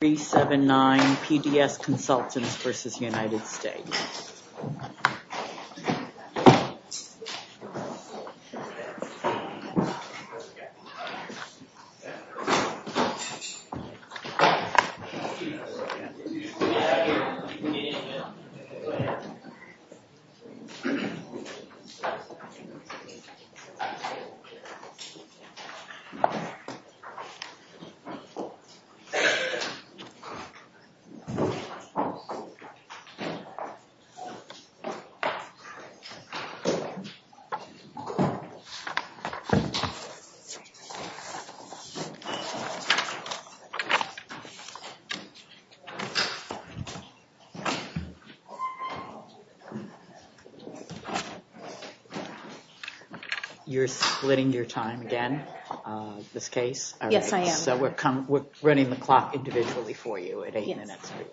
379 PDS Consultants v. United States 379 PDS Consultants v. United States You're splitting your time again, this case? Yes, I am. So we're running the clock individually for you. It ain't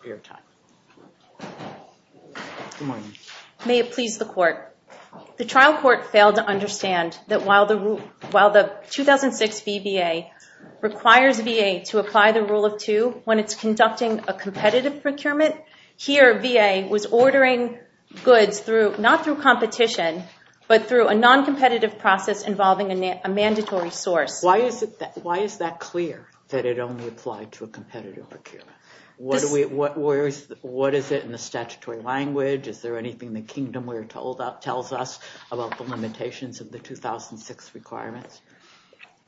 your time. May it please the court. The trial court failed to understand that while the 2006 VBA requires VA to apply the rule of two when it's conducting a competitive procurement, here VA was ordering goods not through competition, but through a non-competitive process involving a mandatory source. Why is that clear that it only applied to a competitive procurement? What is it in the statutory language? Is there anything the kingdom tells us about the limitations of the 2006 requirements?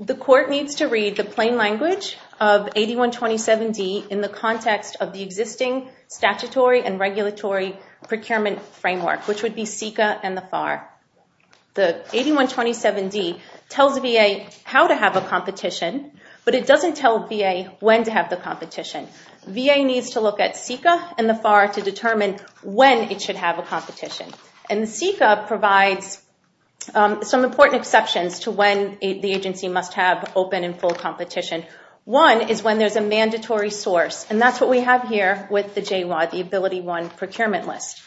The court needs to read the plain language of 8127D in the context of the existing statutory and regulatory procurement framework, which would be CICA and the FAR. The 8127D tells VA how to have a competition, but it doesn't tell VA when to have the competition. VA needs to look at CICA and the FAR to determine when it should have a competition. And the CICA provides some important exceptions to when the agency must have open and full competition. One is when there's a mandatory source, and that's what we have here with the J-1, the Ability One Procurement List.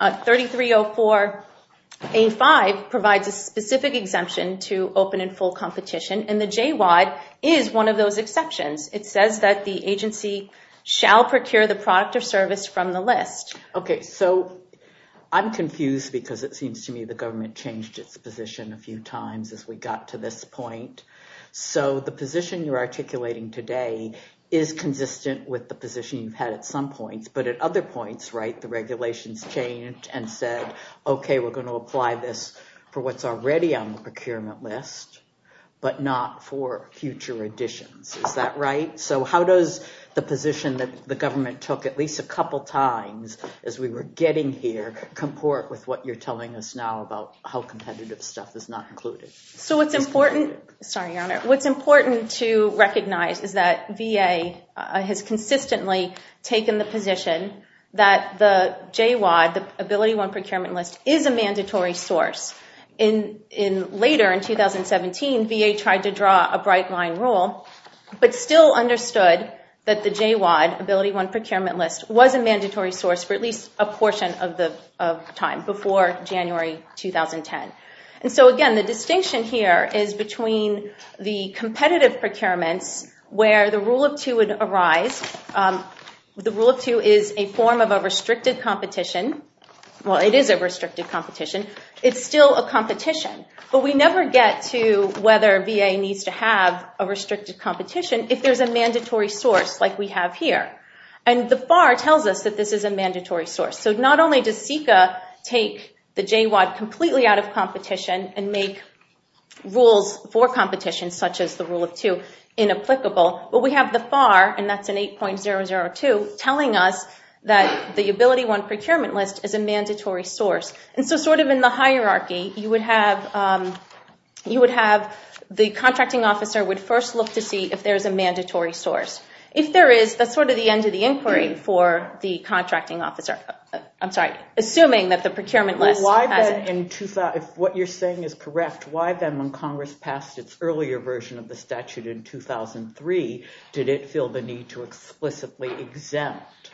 3304A5 provides a specific exemption to open and full competition, and the J-1 is one of those exceptions. It says that the agency shall procure the product or service from the list. OK, so I'm confused because it seems to me the government changed its position a few times as we got to this point. So the position you're articulating today is consistent with the position you've had at some points. But at other points, the regulations changed and said, OK, we're going to apply this for what's already on the procurement list, but not for future additions. Is that right? So how does the position that the government took at least a couple times as we were getting here comport with what you're telling us now about how competitive stuff is not included? So what's important to recognize is that VA has consistently taken the position that the J-1, the Ability One Procurement List, is a mandatory source. Later in 2017, VA tried to draw a bright line rule, but still understood that the J-1, Ability One Procurement List, was a mandatory source for at least a portion of time, before January 2010. And so again, the distinction here is between the competitive procurements, where the Rule of Two would arise. The Rule of Two is a form of a restricted competition. Well, it is a restricted competition. It's still a competition. But we never get to whether VA needs to have a restricted competition if there's a mandatory source, like we have here. And the FAR tells us that this is a mandatory source. So not only does CICA take the J-1 completely out of competition and make rules for competition, such as the Rule of Two, inapplicable, but we have the FAR, and that's in 8.002, telling us that the Ability One Procurement List is a mandatory source. And so sort of in the hierarchy, you would have the contracting officer would first look to see if there is a mandatory source. If there is, that's sort of the end of the inquiry for the contracting officer. I'm sorry, assuming that the procurement list has it. If what you're saying is correct, why then, when Congress passed its earlier version of the statute in 2003, did it feel the need to explicitly exempt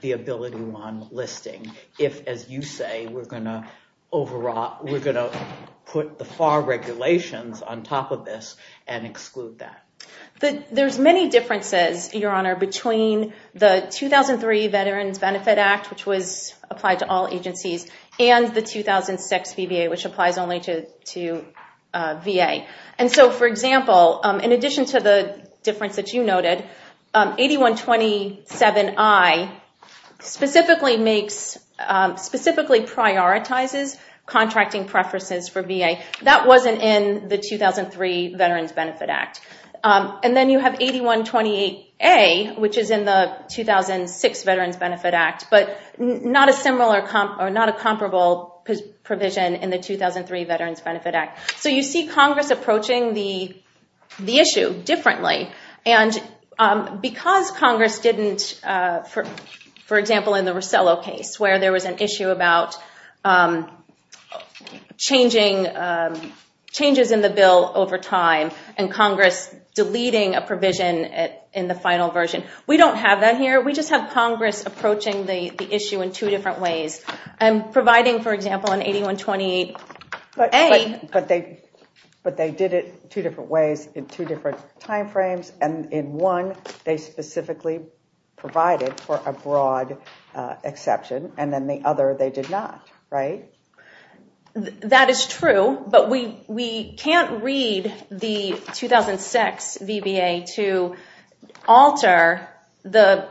the Ability One listing if, as you say, we're going to put the FAR regulations on top of this and exclude that? There's many differences, Your Honor, between the 2003 Veterans Benefit Act, which was applied to all agencies, and the 2006 VBA, which applies only to VA. And so for example, in addition to the difference that you noted, 8127I specifically prioritizes contracting preferences for VA. That wasn't in the 2003 Veterans Benefit Act. And then you have 8128A, which is in the 2006 Veterans Benefit Act, but not a comparable provision in the 2003 Veterans Benefit Act. So you see Congress approaching the issue differently. And because Congress didn't, for example, in the Rosello case, where there was an issue about changes in the bill over time and Congress deleting a provision in the final version, we don't have that here. We just have Congress approaching the issue in two different ways. And providing, for example, an 8128A. But they did it two different ways in two different time frames. And in one, they specifically provided for a broad exception. And then the other, they did not, right? That is true. But we can't read the 2006 VBA to alter the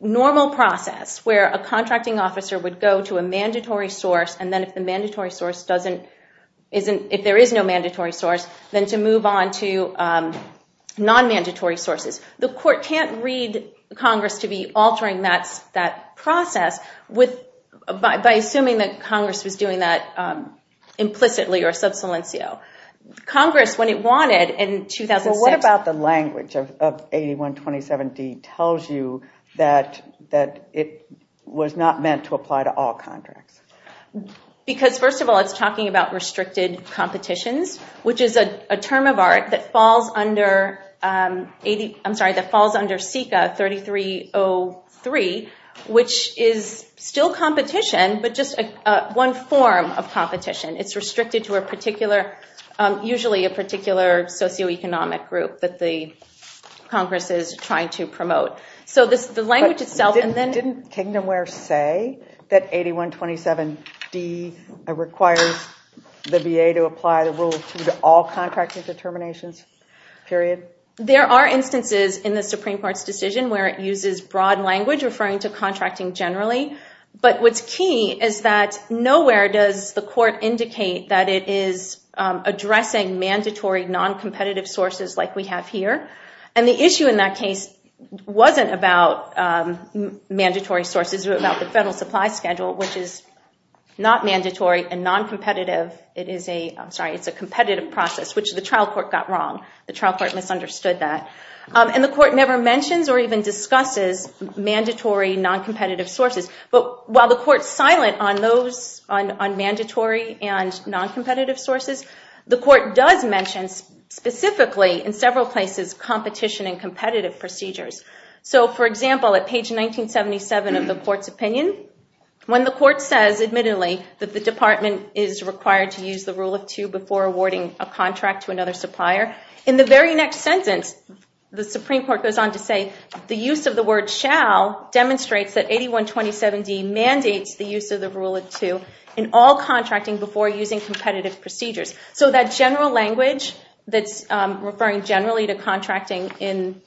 normal process where a contracting officer would go to a mandatory source. And then if the mandatory source doesn't, if there is no mandatory source, then to move on to non-mandatory sources. The court can't read Congress to be altering that process by assuming that Congress was doing that implicitly or sub silencio. Congress, when it wanted in 2006. Well, what about the language of 8127D tells you that it was not meant to apply to all contracts? Because first of all, it's talking about restricted competitions, which is a term of art that falls under SICA 3303, which is still competition, but just one form of competition. It's restricted to a particular, usually a particular socioeconomic group that the Congress is trying to promote. So the language itself, and then. Didn't Kingdomware say that 8127D requires the VA to apply the rule to all contracting determinations, period? There are instances in the Supreme Court's decision where it uses broad language referring to contracting generally. But what's key is that nowhere does the court indicate that it is addressing mandatory non-competitive sources like we have here. And the issue in that case wasn't about mandatory sources, but about the federal supply schedule, which is not mandatory and non-competitive. It is a, I'm sorry, it's a competitive process, which the trial court got wrong. The trial court misunderstood that. And the court never mentions or even discusses mandatory non-competitive sources. But while the court's silent on those, on mandatory and non-competitive sources, the court does mention specifically in several places competition and competitive procedures. So for example, at page 1977 of the court's opinion, when the court says admittedly that the department is required to use the rule of two before awarding a contract to another supplier, in the very next sentence, the Supreme Court goes on to say, the use of the word shall demonstrates that 8127D mandates the use of the rule of two in all contracting before using competitive procedures. So that general language that's referring generally to contracting in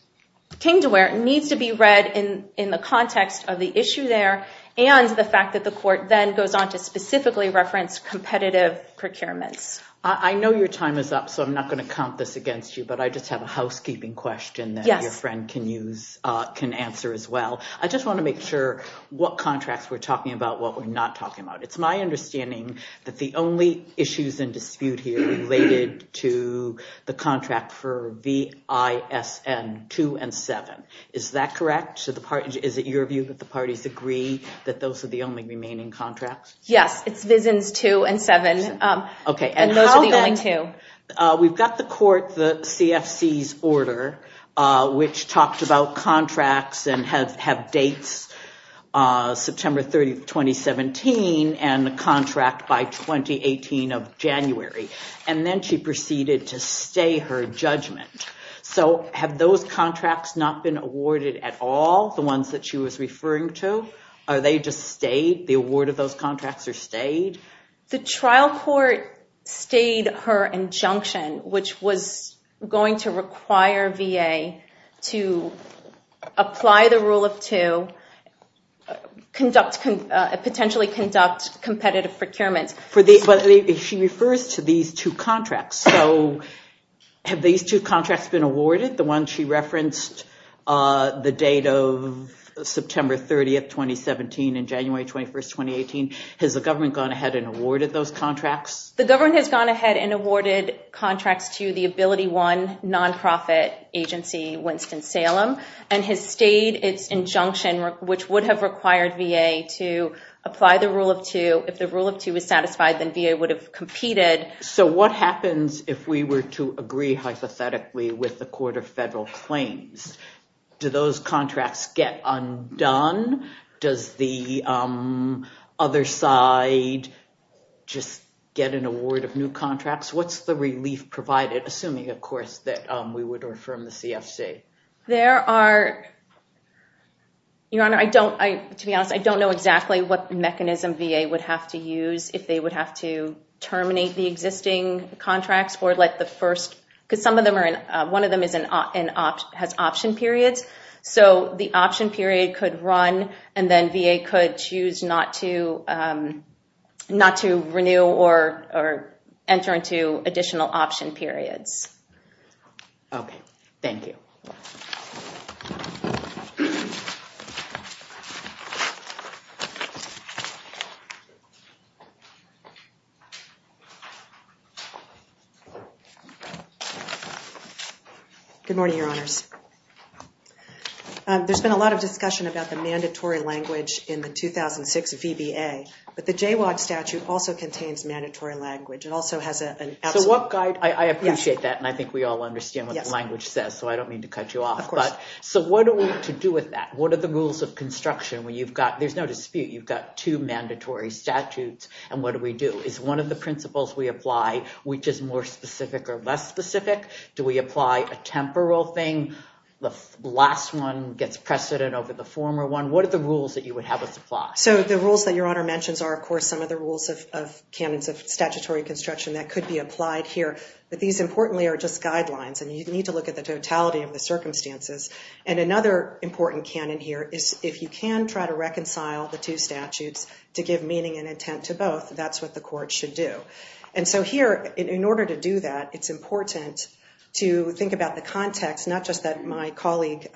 King to where it needs to be read in the context of the issue there and the fact that the court then goes on to specifically reference competitive procurements. I know your time is up, so I'm not going to count this against you. But I just have a housekeeping question that your friend can answer as well. I just want to make sure what contracts we're talking about, what we're not talking about. It's my understanding that the only issues in dispute here related to the contract for VISN 2 and 7. Is that correct? Is it your view that the parties agree that those are the only remaining contracts? Yes, it's VISNs 2 and 7. And those are the only two. We've got the court, the CFC's order, which talked about contracts and have dates September 30, 2017 and the contract by 2018 of January. And then she proceeded to stay her judgment. So have those contracts not been awarded at all, the ones that she was referring to? Are they just stayed? The award of those contracts are stayed? The trial court stayed her injunction, which was going to require VA to apply the rule of two, potentially conduct competitive procurements. She refers to these two contracts. So have these two contracts been awarded, the one she referenced, the date of September 30, 2017 and January 21, 2018? Has the government gone ahead and awarded those contracts? The government has gone ahead and awarded contracts to the AbilityOne nonprofit agency, Winston-Salem, and has stayed its injunction, which would have required VA to apply the rule of two. If the rule of two is satisfied, then VA would have competed. So what happens if we were to agree hypothetically with the Court of Federal Claims? Do those contracts get undone? Does the other side just get an award of new contracts? What's the relief provided, assuming, of course, that we would affirm the CFC? There are, Your Honor, I don't, to be honest, I don't know exactly what mechanism VA would have to use if they would have to terminate the existing contracts or let the first, because some of them are in, one of them has option periods. So the option period could run, and then VA could choose not to renew or enter into additional option periods. OK, thank you. Good morning, Your Honors. There's been a lot of discussion about the mandatory language in the 2006 VBA, but the JWAG statute also contains mandatory language. It also has an absolute. So what guide, I appreciate that, and I think we all understand what the language says, so I don't mean to cut you off. Of course. So what are we to do with that? What are the rules of construction when you've got, there's no dispute, you've got two mandatory statutes, and what do we do? Is one of the principles we apply, which is more specific or less specific? Do we apply a temporal thing? The last one gets precedent over the former one. What are the rules that you would have us apply? So the rules that Your Honor mentions are, of course, some of the rules of candidates of statutory construction that could be applied here. But these, importantly, are just guidelines. And you need to look at the totality of the circumstances. And another important canon here is if you can try to reconcile the two statutes to give meaning and intent to both, that's what the court should do. And so here, in order to do that, it's important to think about the context, not just that my colleague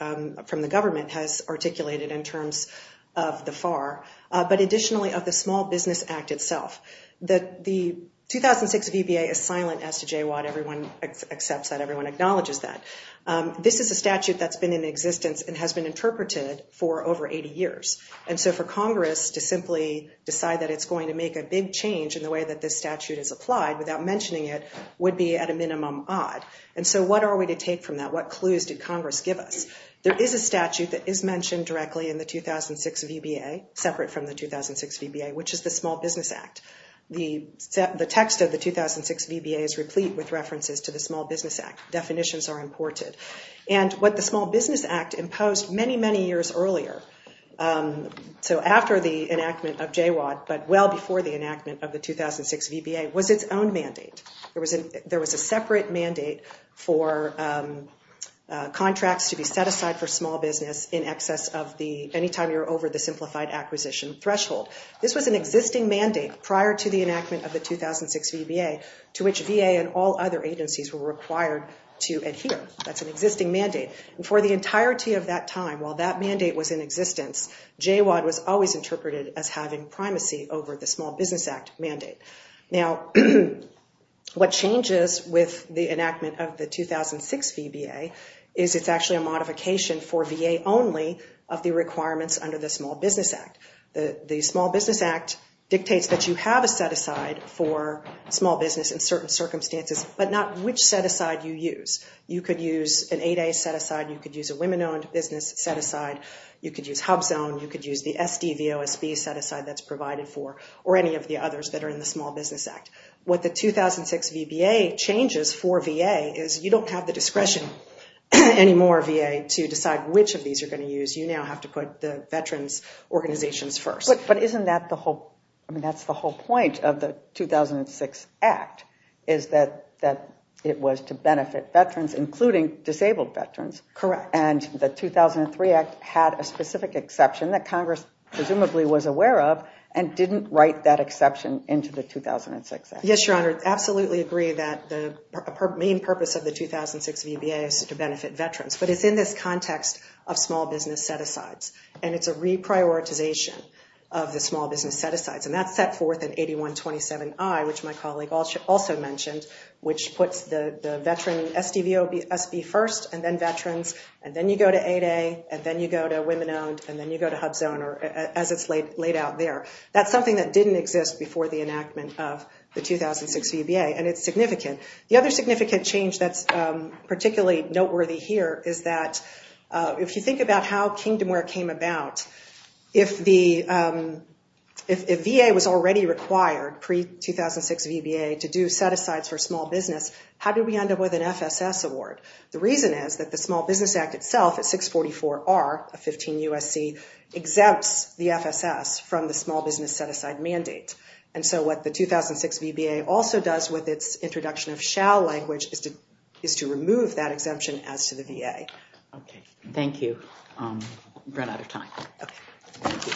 from the government has articulated in terms of the FAR, but additionally of the Small Business Act itself. The 2006 VBA is silent as to JWAG. Accepts that everyone acknowledges that. This is a statute that's been in existence and has been interpreted for over 80 years. And so for Congress to simply decide that it's going to make a big change in the way that this statute is applied, without mentioning it, would be at a minimum odd. And so what are we to take from that? What clues did Congress give us? There is a statute that is mentioned directly in the 2006 VBA, separate from the 2006 VBA, which is the Small Business Act. The text of the 2006 VBA is replete with references to the Small Business Act. Definitions are imported. And what the Small Business Act imposed many, many years earlier, so after the enactment of JWAG, but well before the enactment of the 2006 VBA, was its own mandate. There was a separate mandate for contracts to be set aside for small business in excess of the, any time you're over the simplified acquisition threshold. This was an existing mandate prior to the enactment of the 2006 VBA, to which VA and all other agencies were required to adhere. That's an existing mandate. And for the entirety of that time, while that mandate was in existence, JWAG was always interpreted as having primacy over the Small Business Act mandate. Now, what changes with the enactment of the 2006 VBA is it's actually a modification for VA only of the requirements under the Small Business Act. The Small Business Act dictates that you have a set-aside for small business in certain circumstances, but not which set-aside you use. You could use an 8A set-aside. You could use a women-owned business set-aside. You could use HUBZone. You could use the SDVOSB set-aside that's provided for, or any of the others that are in the Small Business Act. What the 2006 VBA changes for VA is you don't have the discretion anymore, VA, to decide which of these you're going to use. You now have to put the veterans' organizations first. But isn't that the whole point of the 2006 Act is that it was to benefit veterans, including disabled veterans? Correct. And the 2003 Act had a specific exception that Congress presumably was aware of and didn't write that exception into the 2006 Act. Yes, Your Honor, absolutely agree that the main purpose of the 2006 VBA is to benefit veterans. But it's in this context of small business set-asides. And it's a reprioritization of the small business set-asides. And that's set forth in 8127I, which my colleague also mentioned, which puts the veteran SDVOSB first, and then veterans. And then you go to 8A. And then you go to women-owned. And then you go to HUBZone, as it's laid out there. That's something that didn't exist before the enactment of the 2006 VBA. And it's significant. The other significant change that's particularly noteworthy here is that, if you think about how Kingdomware came about, if VA was already required pre-2006 VBA to do set-asides for small business, how did we end up with an FSS award? The reason is that the Small Business Act itself, at 644R of 15 USC, exempts the FSS from the small business set-aside mandate. And so what the 2006 VBA also does with its introduction of shall language is to remove that exemption as to the VA. OK, thank you. We've run out of time. OK. Thank you.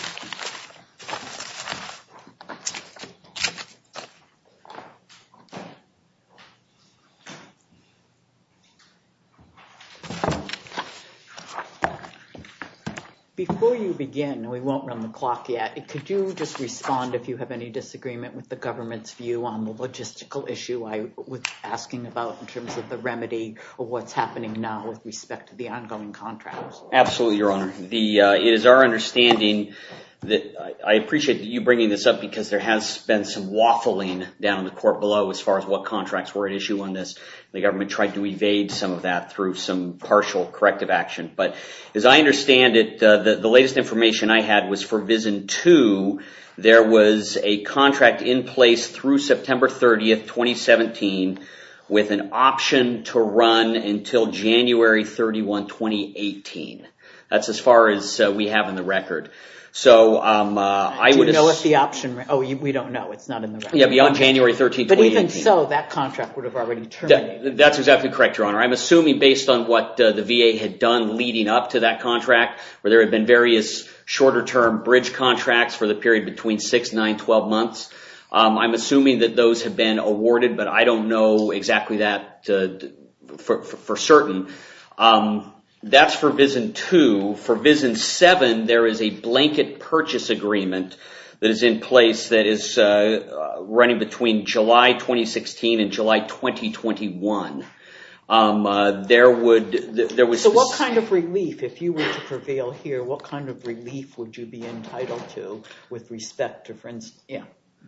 Before you begin, and we won't run the clock yet, could you just respond if you have any disagreement with the government's view on the logistical issue I was asking about in terms of the remedy of what's happening now with respect to the ongoing contracts? Absolutely, Your Honor. It is our understanding that I appreciate you bringing this up because there has been some waffling down in the court below as far as what contracts were at issue on this. The government tried to evade some of that through some partial corrective action. But as I understand it, the latest information I had was for VISN 2, there was a contract in place through September 30, 2017, with an option to run until January 31, 2018. That's as far as we have in the record. So I would assume that's the option. Oh, we don't know. It's not in the record. Yeah, beyond January 13, 2018. But even so, that contract would have already terminated. That's exactly correct, Your Honor. I'm assuming based on what the VA had done leading up to that contract, where there had been various shorter term bridge contracts for the period between 6, 9, 12 months, I'm assuming that those have been awarded. But I don't know exactly that for certain. That's for VISN 2. For VISN 7, there is a blanket purchase agreement that is in place that is running between July 2016 and July 2021. There would, there was. So what kind of relief, if you were to prevail here, what kind of relief would you be entitled to with respect to, for instance,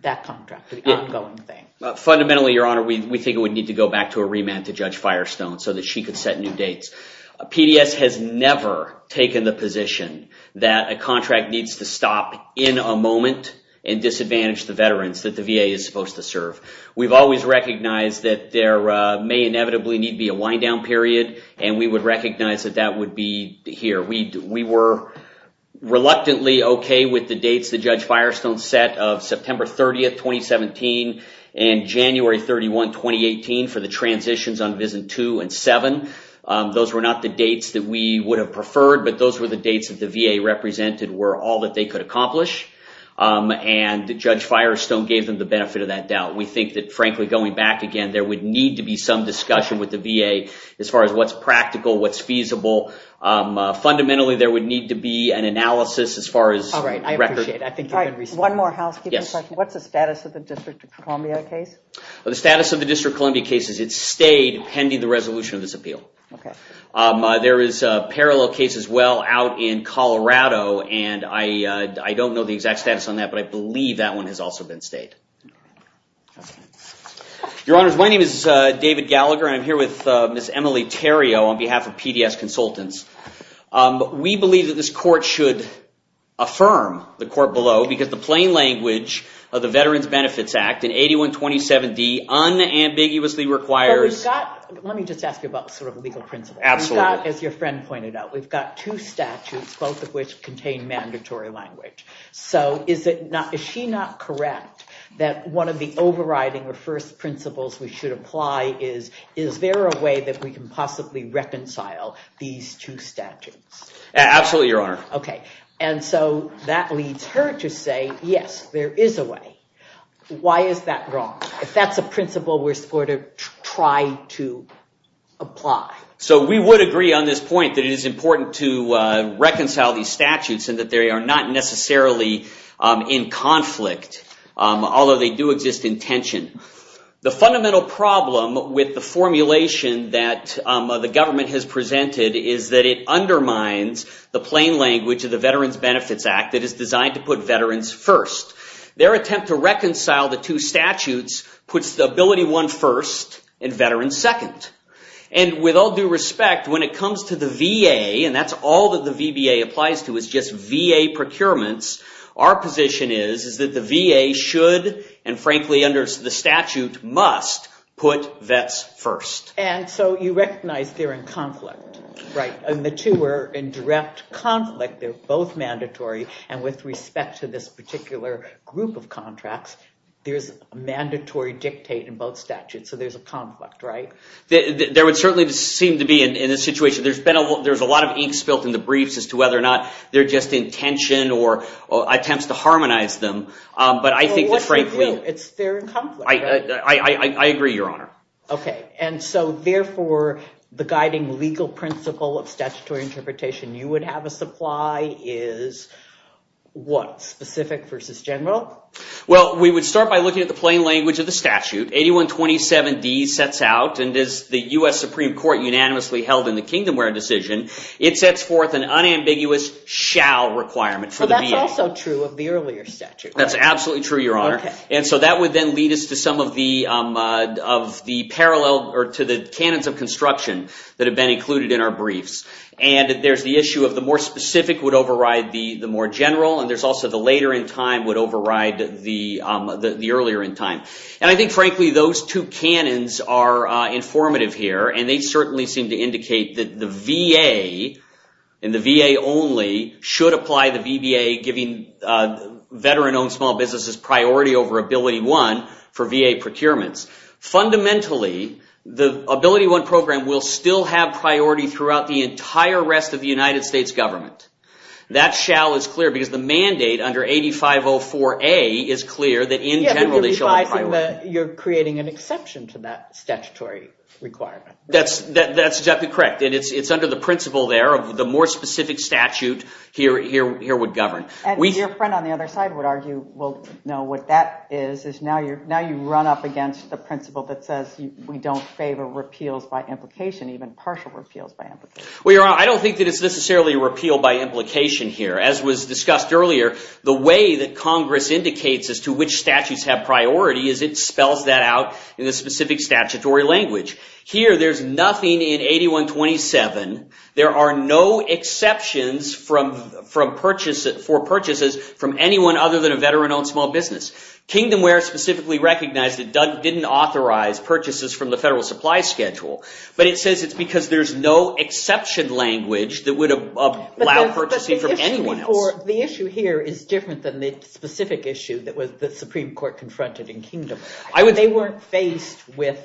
that contract, the ongoing thing? Fundamentally, Your Honor, we think it would need to go back to a remand to Judge Firestone so that she could set new dates. PDS has never taken the position that a contract needs to stop in a moment and disadvantage the veterans that the VA is supposed to serve. We've always recognized that there may inevitably need be a wind down period. And we would recognize that that would be here. We were reluctantly OK with the dates that Judge Firestone set of September 30, 2017, and January 31, 2018, for the transitions on VISN 2 and 7. Those were not the dates that we would have preferred. But those were the dates that the VA represented were all that they could accomplish. And Judge Firestone gave them the benefit of that doubt. We think that, frankly, going back again, there would need to be some discussion with the VA as far as what's practical, what's feasible. Fundamentally, there would need to be an analysis as far as the record. All right, I appreciate it. I think you've been receptive. All right, one more housekeeping question. What's the status of the District of Columbia case? Well, the status of the District of Columbia case is it stayed pending the resolution of this appeal. There is a parallel case as well out in Colorado. And I don't know the exact status on that. But I believe that one has also been stayed. Your Honors, my name is David Gallagher. I'm here with Ms. Emily Theriault on behalf of PDS Consultants. We believe that this court should affirm the court below because the plain language of the Veterans Benefits Act in 8127D unambiguously requires. Let me just ask you about legal principles. As your friend pointed out, we've got two statutes, both of which contain mandatory language. So is she not correct that one of the overriding or first principles we should apply is, is there a way that we can reconcile these two statutes? Absolutely, Your Honor. And so that leads her to say, yes, there is a way. Why is that wrong? If that's a principle we're supposed to try to apply. So we would agree on this point that it is important to reconcile these statutes and that they are not necessarily in conflict, although they do exist in tension. The fundamental problem with the formulation that the government has presented is that it undermines the plain language of the Veterans Benefits Act that is designed to put veterans first. Their attempt to reconcile the two statutes puts the ability one first and veterans second. And with all due respect, when it comes to the VA, and that's all that the VBA applies to is just VA procurements, our position is that the VA should, and frankly under the statute, must put vets first. And so you recognize they're in conflict, right? And the two are in direct conflict. They're both mandatory. And with respect to this particular group of contracts, there's a mandatory dictate in both statutes. So there's a conflict, right? There would certainly seem to be in this situation. There's a lot of ink spilled in the briefs as to whether or not they're just in tension or attempts to harmonize them. But I think that, frankly, I agree, Your Honor. OK. And so therefore, the guiding legal principle of statutory interpretation you would have a supply is what? Specific versus general? Well, we would start by looking at the plain language of the statute. 8127D sets out, and as the US Supreme Court unanimously held in the Kingdomware decision, it sets forth an unambiguous shall requirement for the VA. That's absolutely true, Your Honor. And so that would then lead us to the canons of construction that have been included in our briefs. And there's the issue of the more specific would override the more general. And there's also the later in time would override the earlier in time. And I think, frankly, those two canons are informative here. And they certainly seem to indicate that the VA and the VA only should apply the VBA, giving veteran-owned small businesses priority over AbilityOne for VA procurements. Fundamentally, the AbilityOne program will still have priority throughout the entire rest of the United States government. That shall is clear, because the mandate under 8504A is clear that, in general, they shall have priority. You're creating an exception to that statutory requirement. That's exactly correct. And it's under the principle there of the more specific statute here would govern. And your friend on the other side would argue, well, no, what that is is now you run up against the principle that says we don't favor repeals by implication, even partial repeals by implication. Well, Your Honor, I don't think that it's necessarily a repeal by implication here. As was discussed earlier, the way that Congress indicates as to which statutes have priority is it spells that out in a specific statutory language. Here, there's nothing in 8127. There are no exceptions for purchases from anyone other than a veteran-owned small business. Kingdomware specifically recognized it didn't authorize purchases from the federal supply schedule. But it says it's because there's no exception language that would allow purchasing from anyone else. The issue here is different than the specific issue that the Supreme Court confronted in Kingdom. They weren't faced with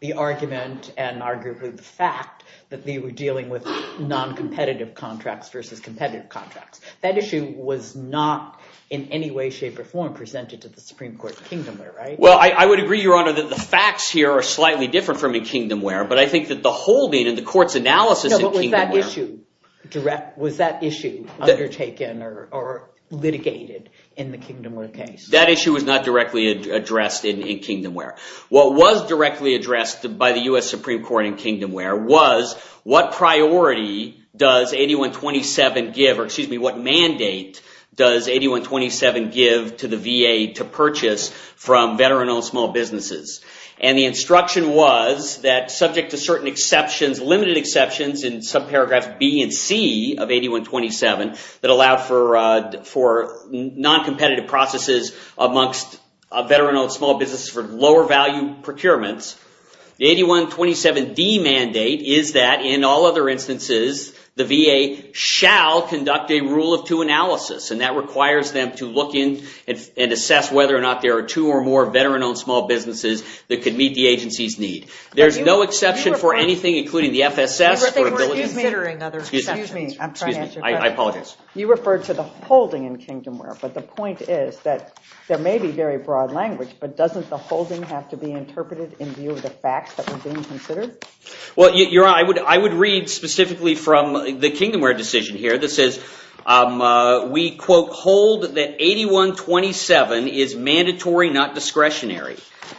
the argument and arguably the fact that they were dealing with non-competitive contracts versus competitive contracts. That issue was not in any way, shape, or form presented to the Supreme Court in Kingdomware, right? Well, I would agree, Your Honor, that the facts here are slightly different from in Kingdomware. But I think that the holding and the court's analysis in Kingdomware. No, but was that issue undertaken or litigated in the Kingdomware case? That issue was not directly addressed in Kingdomware. What was directly addressed by the US Supreme Court in Kingdomware was, what priority does 8127 give, or excuse me, what mandate does 8127 give to the VA to purchase from veteran-owned small businesses? And the instruction was that, subject to certain exceptions, limited exceptions, in subparagraphs B and C of 8127 that allowed for non-competitive processes amongst veteran-owned small businesses for lower value procurements, the 8127D mandate is that, in all other instances, the VA shall conduct a rule of two analysis. And that requires them to look in and assess whether or not there are two or more veteran-owned small businesses that could meet the agency's need. There's no exception for anything, including the FSS or ability to consider other exceptions. Excuse me. I'm trying to answer. I apologize. You referred to the holding in Kingdomware. But the point is that there may be very broad language, but doesn't the holding have to be interpreted in view of the facts that were being considered? Well, you're right. I would read specifically from the Kingdomware decision here that says, we, quote, hold that 8127 is mandatory, not discretionary.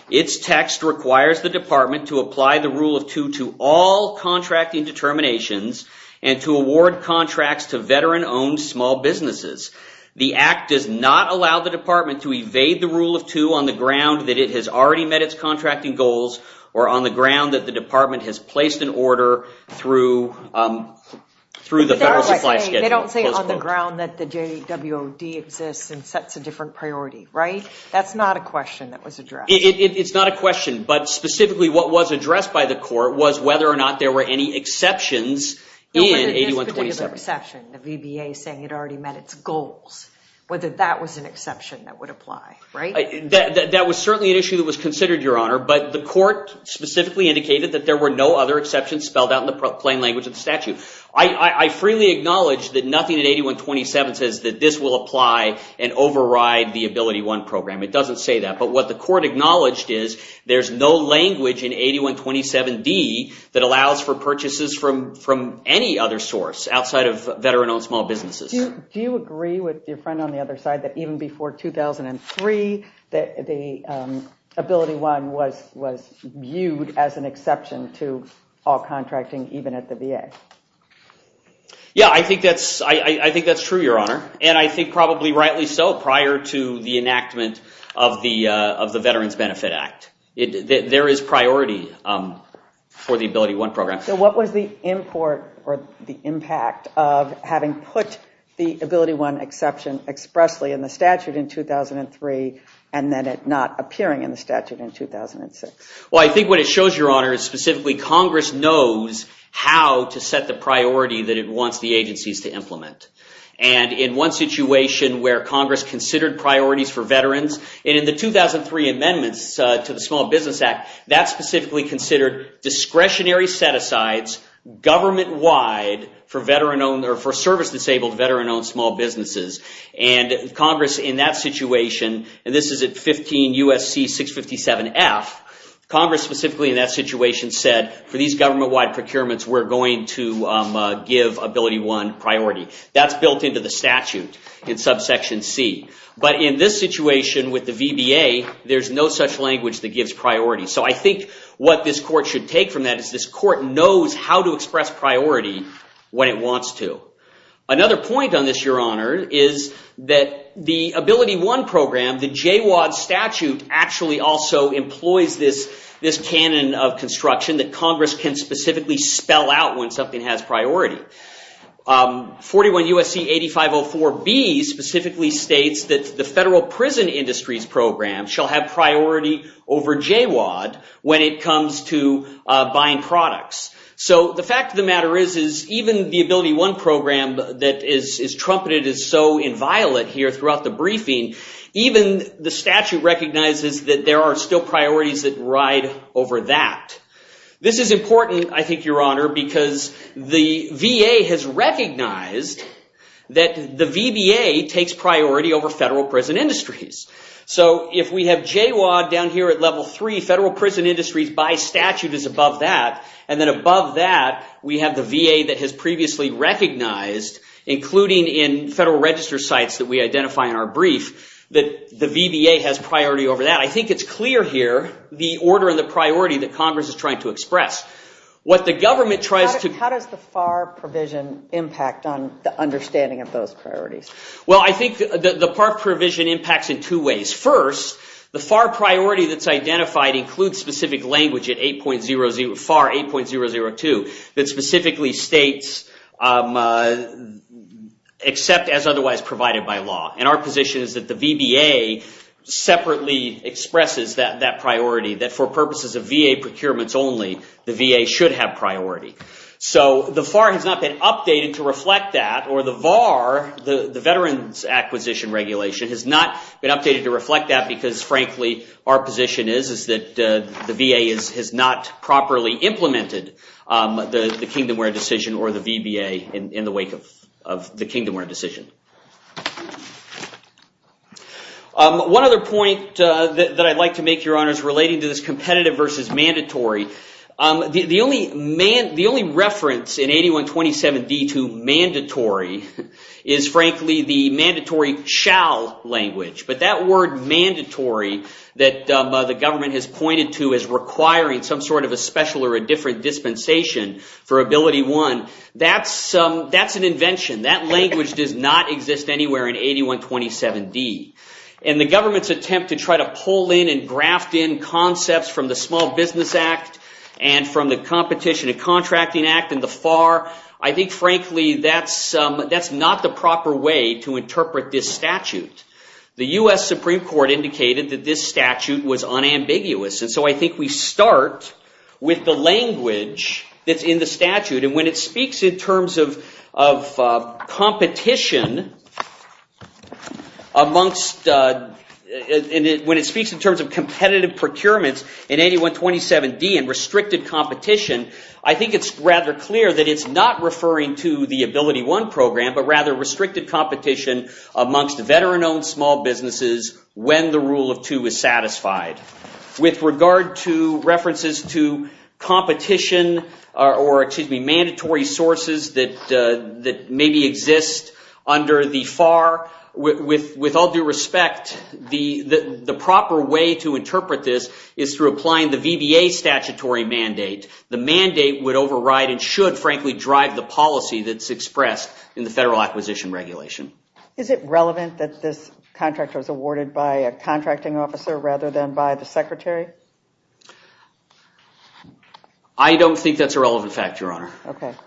Its text requires the department to apply the rule of two to all contracting determinations and to award contracts to veteran-owned small businesses. The act does not allow the department to evade the rule of two on the ground that it has already met its contracting goals or on the ground that the department has placed an order through the Federal Supply Schedule, close quote. They don't say on the ground that the JWOD exists and sets a different priority, right? That's not a question that was addressed. It's not a question. But specifically, what was addressed by the court was whether or not there were any exceptions in 8127. There was a particular exception, the VBA saying it already met its goals, whether that was an exception that would apply, right? That was certainly an issue that was considered, Your Honor. But the court specifically indicated that there were no other exceptions spelled out in the plain language of the statute. I freely acknowledge that nothing in 8127 says that this will apply and override the AbilityOne program. It doesn't say that. But what the court acknowledged is there's no language in 8127D that allows for purchases from any other source outside of veteran-owned small businesses. Do you agree with your friend on the other side that even before 2003, the AbilityOne was viewed as an exception to all contracting, even at the VA? Yeah, I think that's true, Your Honor. And I think probably rightly so, prior to the enactment of the Veterans Benefit Act. There is priority for the AbilityOne program. So what was the import or the impact of having put the AbilityOne exception expressly in the statute in 2003, and then it not appearing in the statute in 2006? Well, I think what it shows, Your Honor, is specifically Congress knows how to set the priority that it wants the agencies to implement. And in one situation where Congress considered priorities for veterans, and in the 2003 amendments to the Small Business Act, that specifically considered discretionary set-asides, government-wide for service-disabled veteran-owned small businesses. And Congress, in that situation, and this is at 15 U.S.C. 657-F, Congress specifically in that situation said, for these government-wide procurements, we're going to give AbilityOne priority. That's built into the statute in subsection C. But in this situation with the VBA, there's no such language that gives priority. So I think what this court should take from that is this court knows how to express priority when it wants to. Another point on this, Your Honor, is that the AbilityOne program, the JWAD statute, actually also employs this canon of construction that Congress can specifically spell out when something has priority. 41 U.S.C. 8504B specifically states that the federal prison industries program shall have priority over JWAD when it comes to buying products. So the fact of the matter is, is even the AbilityOne program that is trumpeted is so inviolate here throughout the briefing, even the statute recognizes that there are still priorities that ride over that. This is important, I think, Your Honor, because the VA has recognized that the VBA takes priority over federal prison industries. So if we have JWAD down here at level 3, federal prison industries by statute is above that. And then above that, we have the VA that has previously recognized, including in federal register sites that we identify in our brief, that the VBA has priority over that. I think it's clear here the order and the priority that Congress is trying to express. What the government tries to- How does the FAR provision impact on the understanding of those priorities? Well, I think the FAR provision impacts in two ways. First, the FAR priority that's identified includes specific language at FAR 8.002 that specifically states, except as otherwise provided by law. And our position is that the VBA separately expresses that priority, that for purposes of VA procurements only, the VA should have priority. So the FAR has not been updated to reflect that. Or the VAR, the Veterans Acquisition Regulation, has not been updated to reflect that because, frankly, our position is that the VA has not properly implemented the Kingdomware decision or the VBA in the wake of the Kingdomware decision. One other point that I'd like to make, Your Honors, relating to this competitive versus mandatory. The only reference in 8127d to mandatory is, frankly, the mandatory shall language. But that word mandatory that the government has pointed to as requiring some sort of a special or a different dispensation for Ability One, that's an invention. That language does not exist anywhere in 8127d. And the government's attempt to try to pull in and graft in concepts from the Small Business Act and from the Competition and Contracting Act and the FAR, I think, frankly, that's not the proper way to interpret this statute. The US Supreme Court indicated that this statute was unambiguous. And so I think we start with the language that's in the statute. And when it speaks in terms of competition amongst, when it speaks in terms of competitive procurements in 8127d and restricted competition, I think it's rather clear that it's not referring to the Ability One program, but rather restricted competition amongst veteran-owned small businesses when the rule of two is satisfied. With regard to references to competition or, excuse me, exists under the FAR, with all due respect, the proper way to interpret this is through applying the VBA statutory mandate. The mandate would override and should, frankly, drive the policy that's expressed in the Federal Acquisition Regulation. Is it relevant that this contract was awarded by a contracting officer rather than by the Secretary? I don't think that's a relevant fact, Your Honor.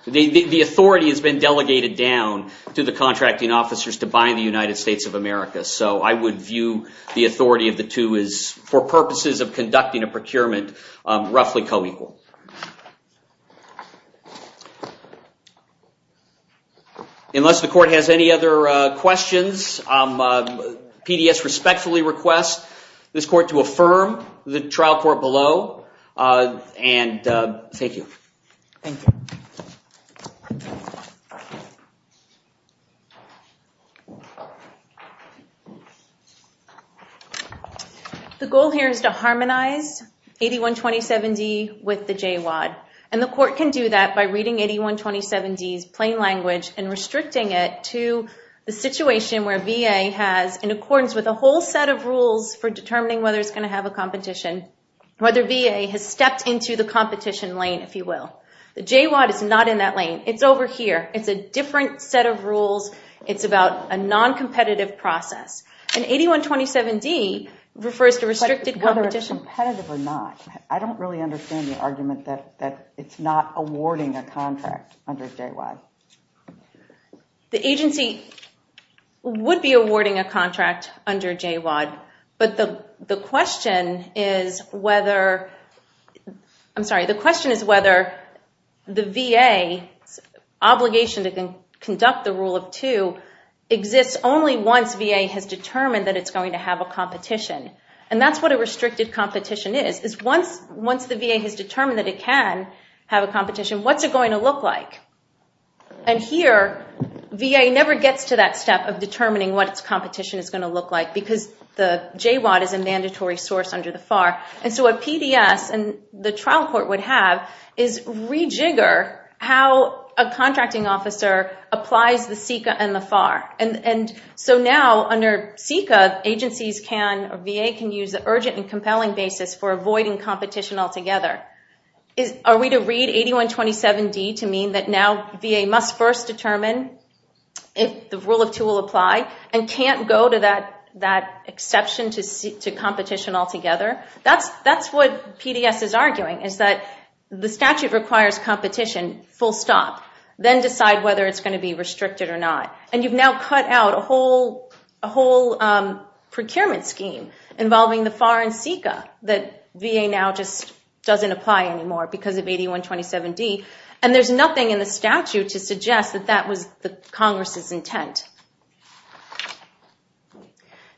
The authority has been delegated down to the contracting officers to buy in the United States of America. So I would view the authority of the two as, for purposes of conducting a procurement, roughly co-equal. Unless the court has any other questions, PDS respectfully requests this court to affirm the trial court below. And thank you. Thank you. The goal here is to harmonize 8127D with the JWAD. And the court can do that by reading 8127D's plain language and restricting it to the situation where VA has, in accordance with a whole set of rules for determining whether it's going to have a competition, whether VA has stepped into the competition lane, if you will. The JWAD is not in that lane. It's over here. It's a different set of rules. It's about a non-competitive process. And 8127D refers to restricted competition. But whether it's competitive or not, I don't really understand the argument that it's not awarding a contract under JWAD. The agency would be awarding a contract under JWAD. But the question is whether the VA's obligation to conduct the Rule of Two exists only once VA has determined that it's going to have a competition. And that's what a restricted competition is, is once the VA has determined that it can have a competition, what's it going to look like? And here, VA never gets to that step of determining what its competition is if the JWAD is a mandatory source under the FAR. And so a PDS, and the trial court would have, is rejigger how a contracting officer applies the CICA and the FAR. And so now, under CICA, VA can use the urgent and compelling basis for avoiding competition altogether. Are we to read 8127D to mean that now VA must first determine if the Rule of Two will apply and can't go to that exception to competition altogether? That's what PDS is arguing, is that the statute requires competition, full stop. Then decide whether it's going to be restricted or not. And you've now cut out a whole procurement scheme involving the FAR and CICA that VA now just doesn't apply anymore because of 8127D. And there's nothing in the statute to suggest that that was the Congress's intent.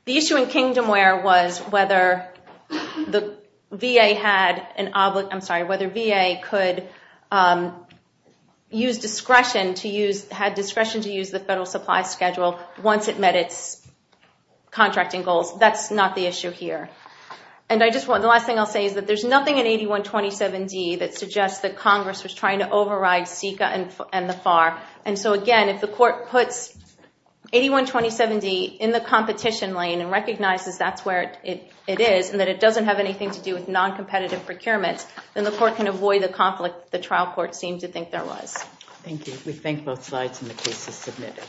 The issue in Kingdomware was whether VA could use discretion to use the federal supply schedule once it met its contracting goals. That's not the issue here. And I just want, the last thing I'll say is that there's nothing in 8127D that suggests that Congress was trying to override CICA and the FAR. And so again, if the court puts 8127D in the competition lane and recognizes that's where it is and that it doesn't have anything to do with non-competitive procurements, then the court can avoid the conflict the trial court seemed to think there was. Thank you. We thank both sides, and the case is submitted.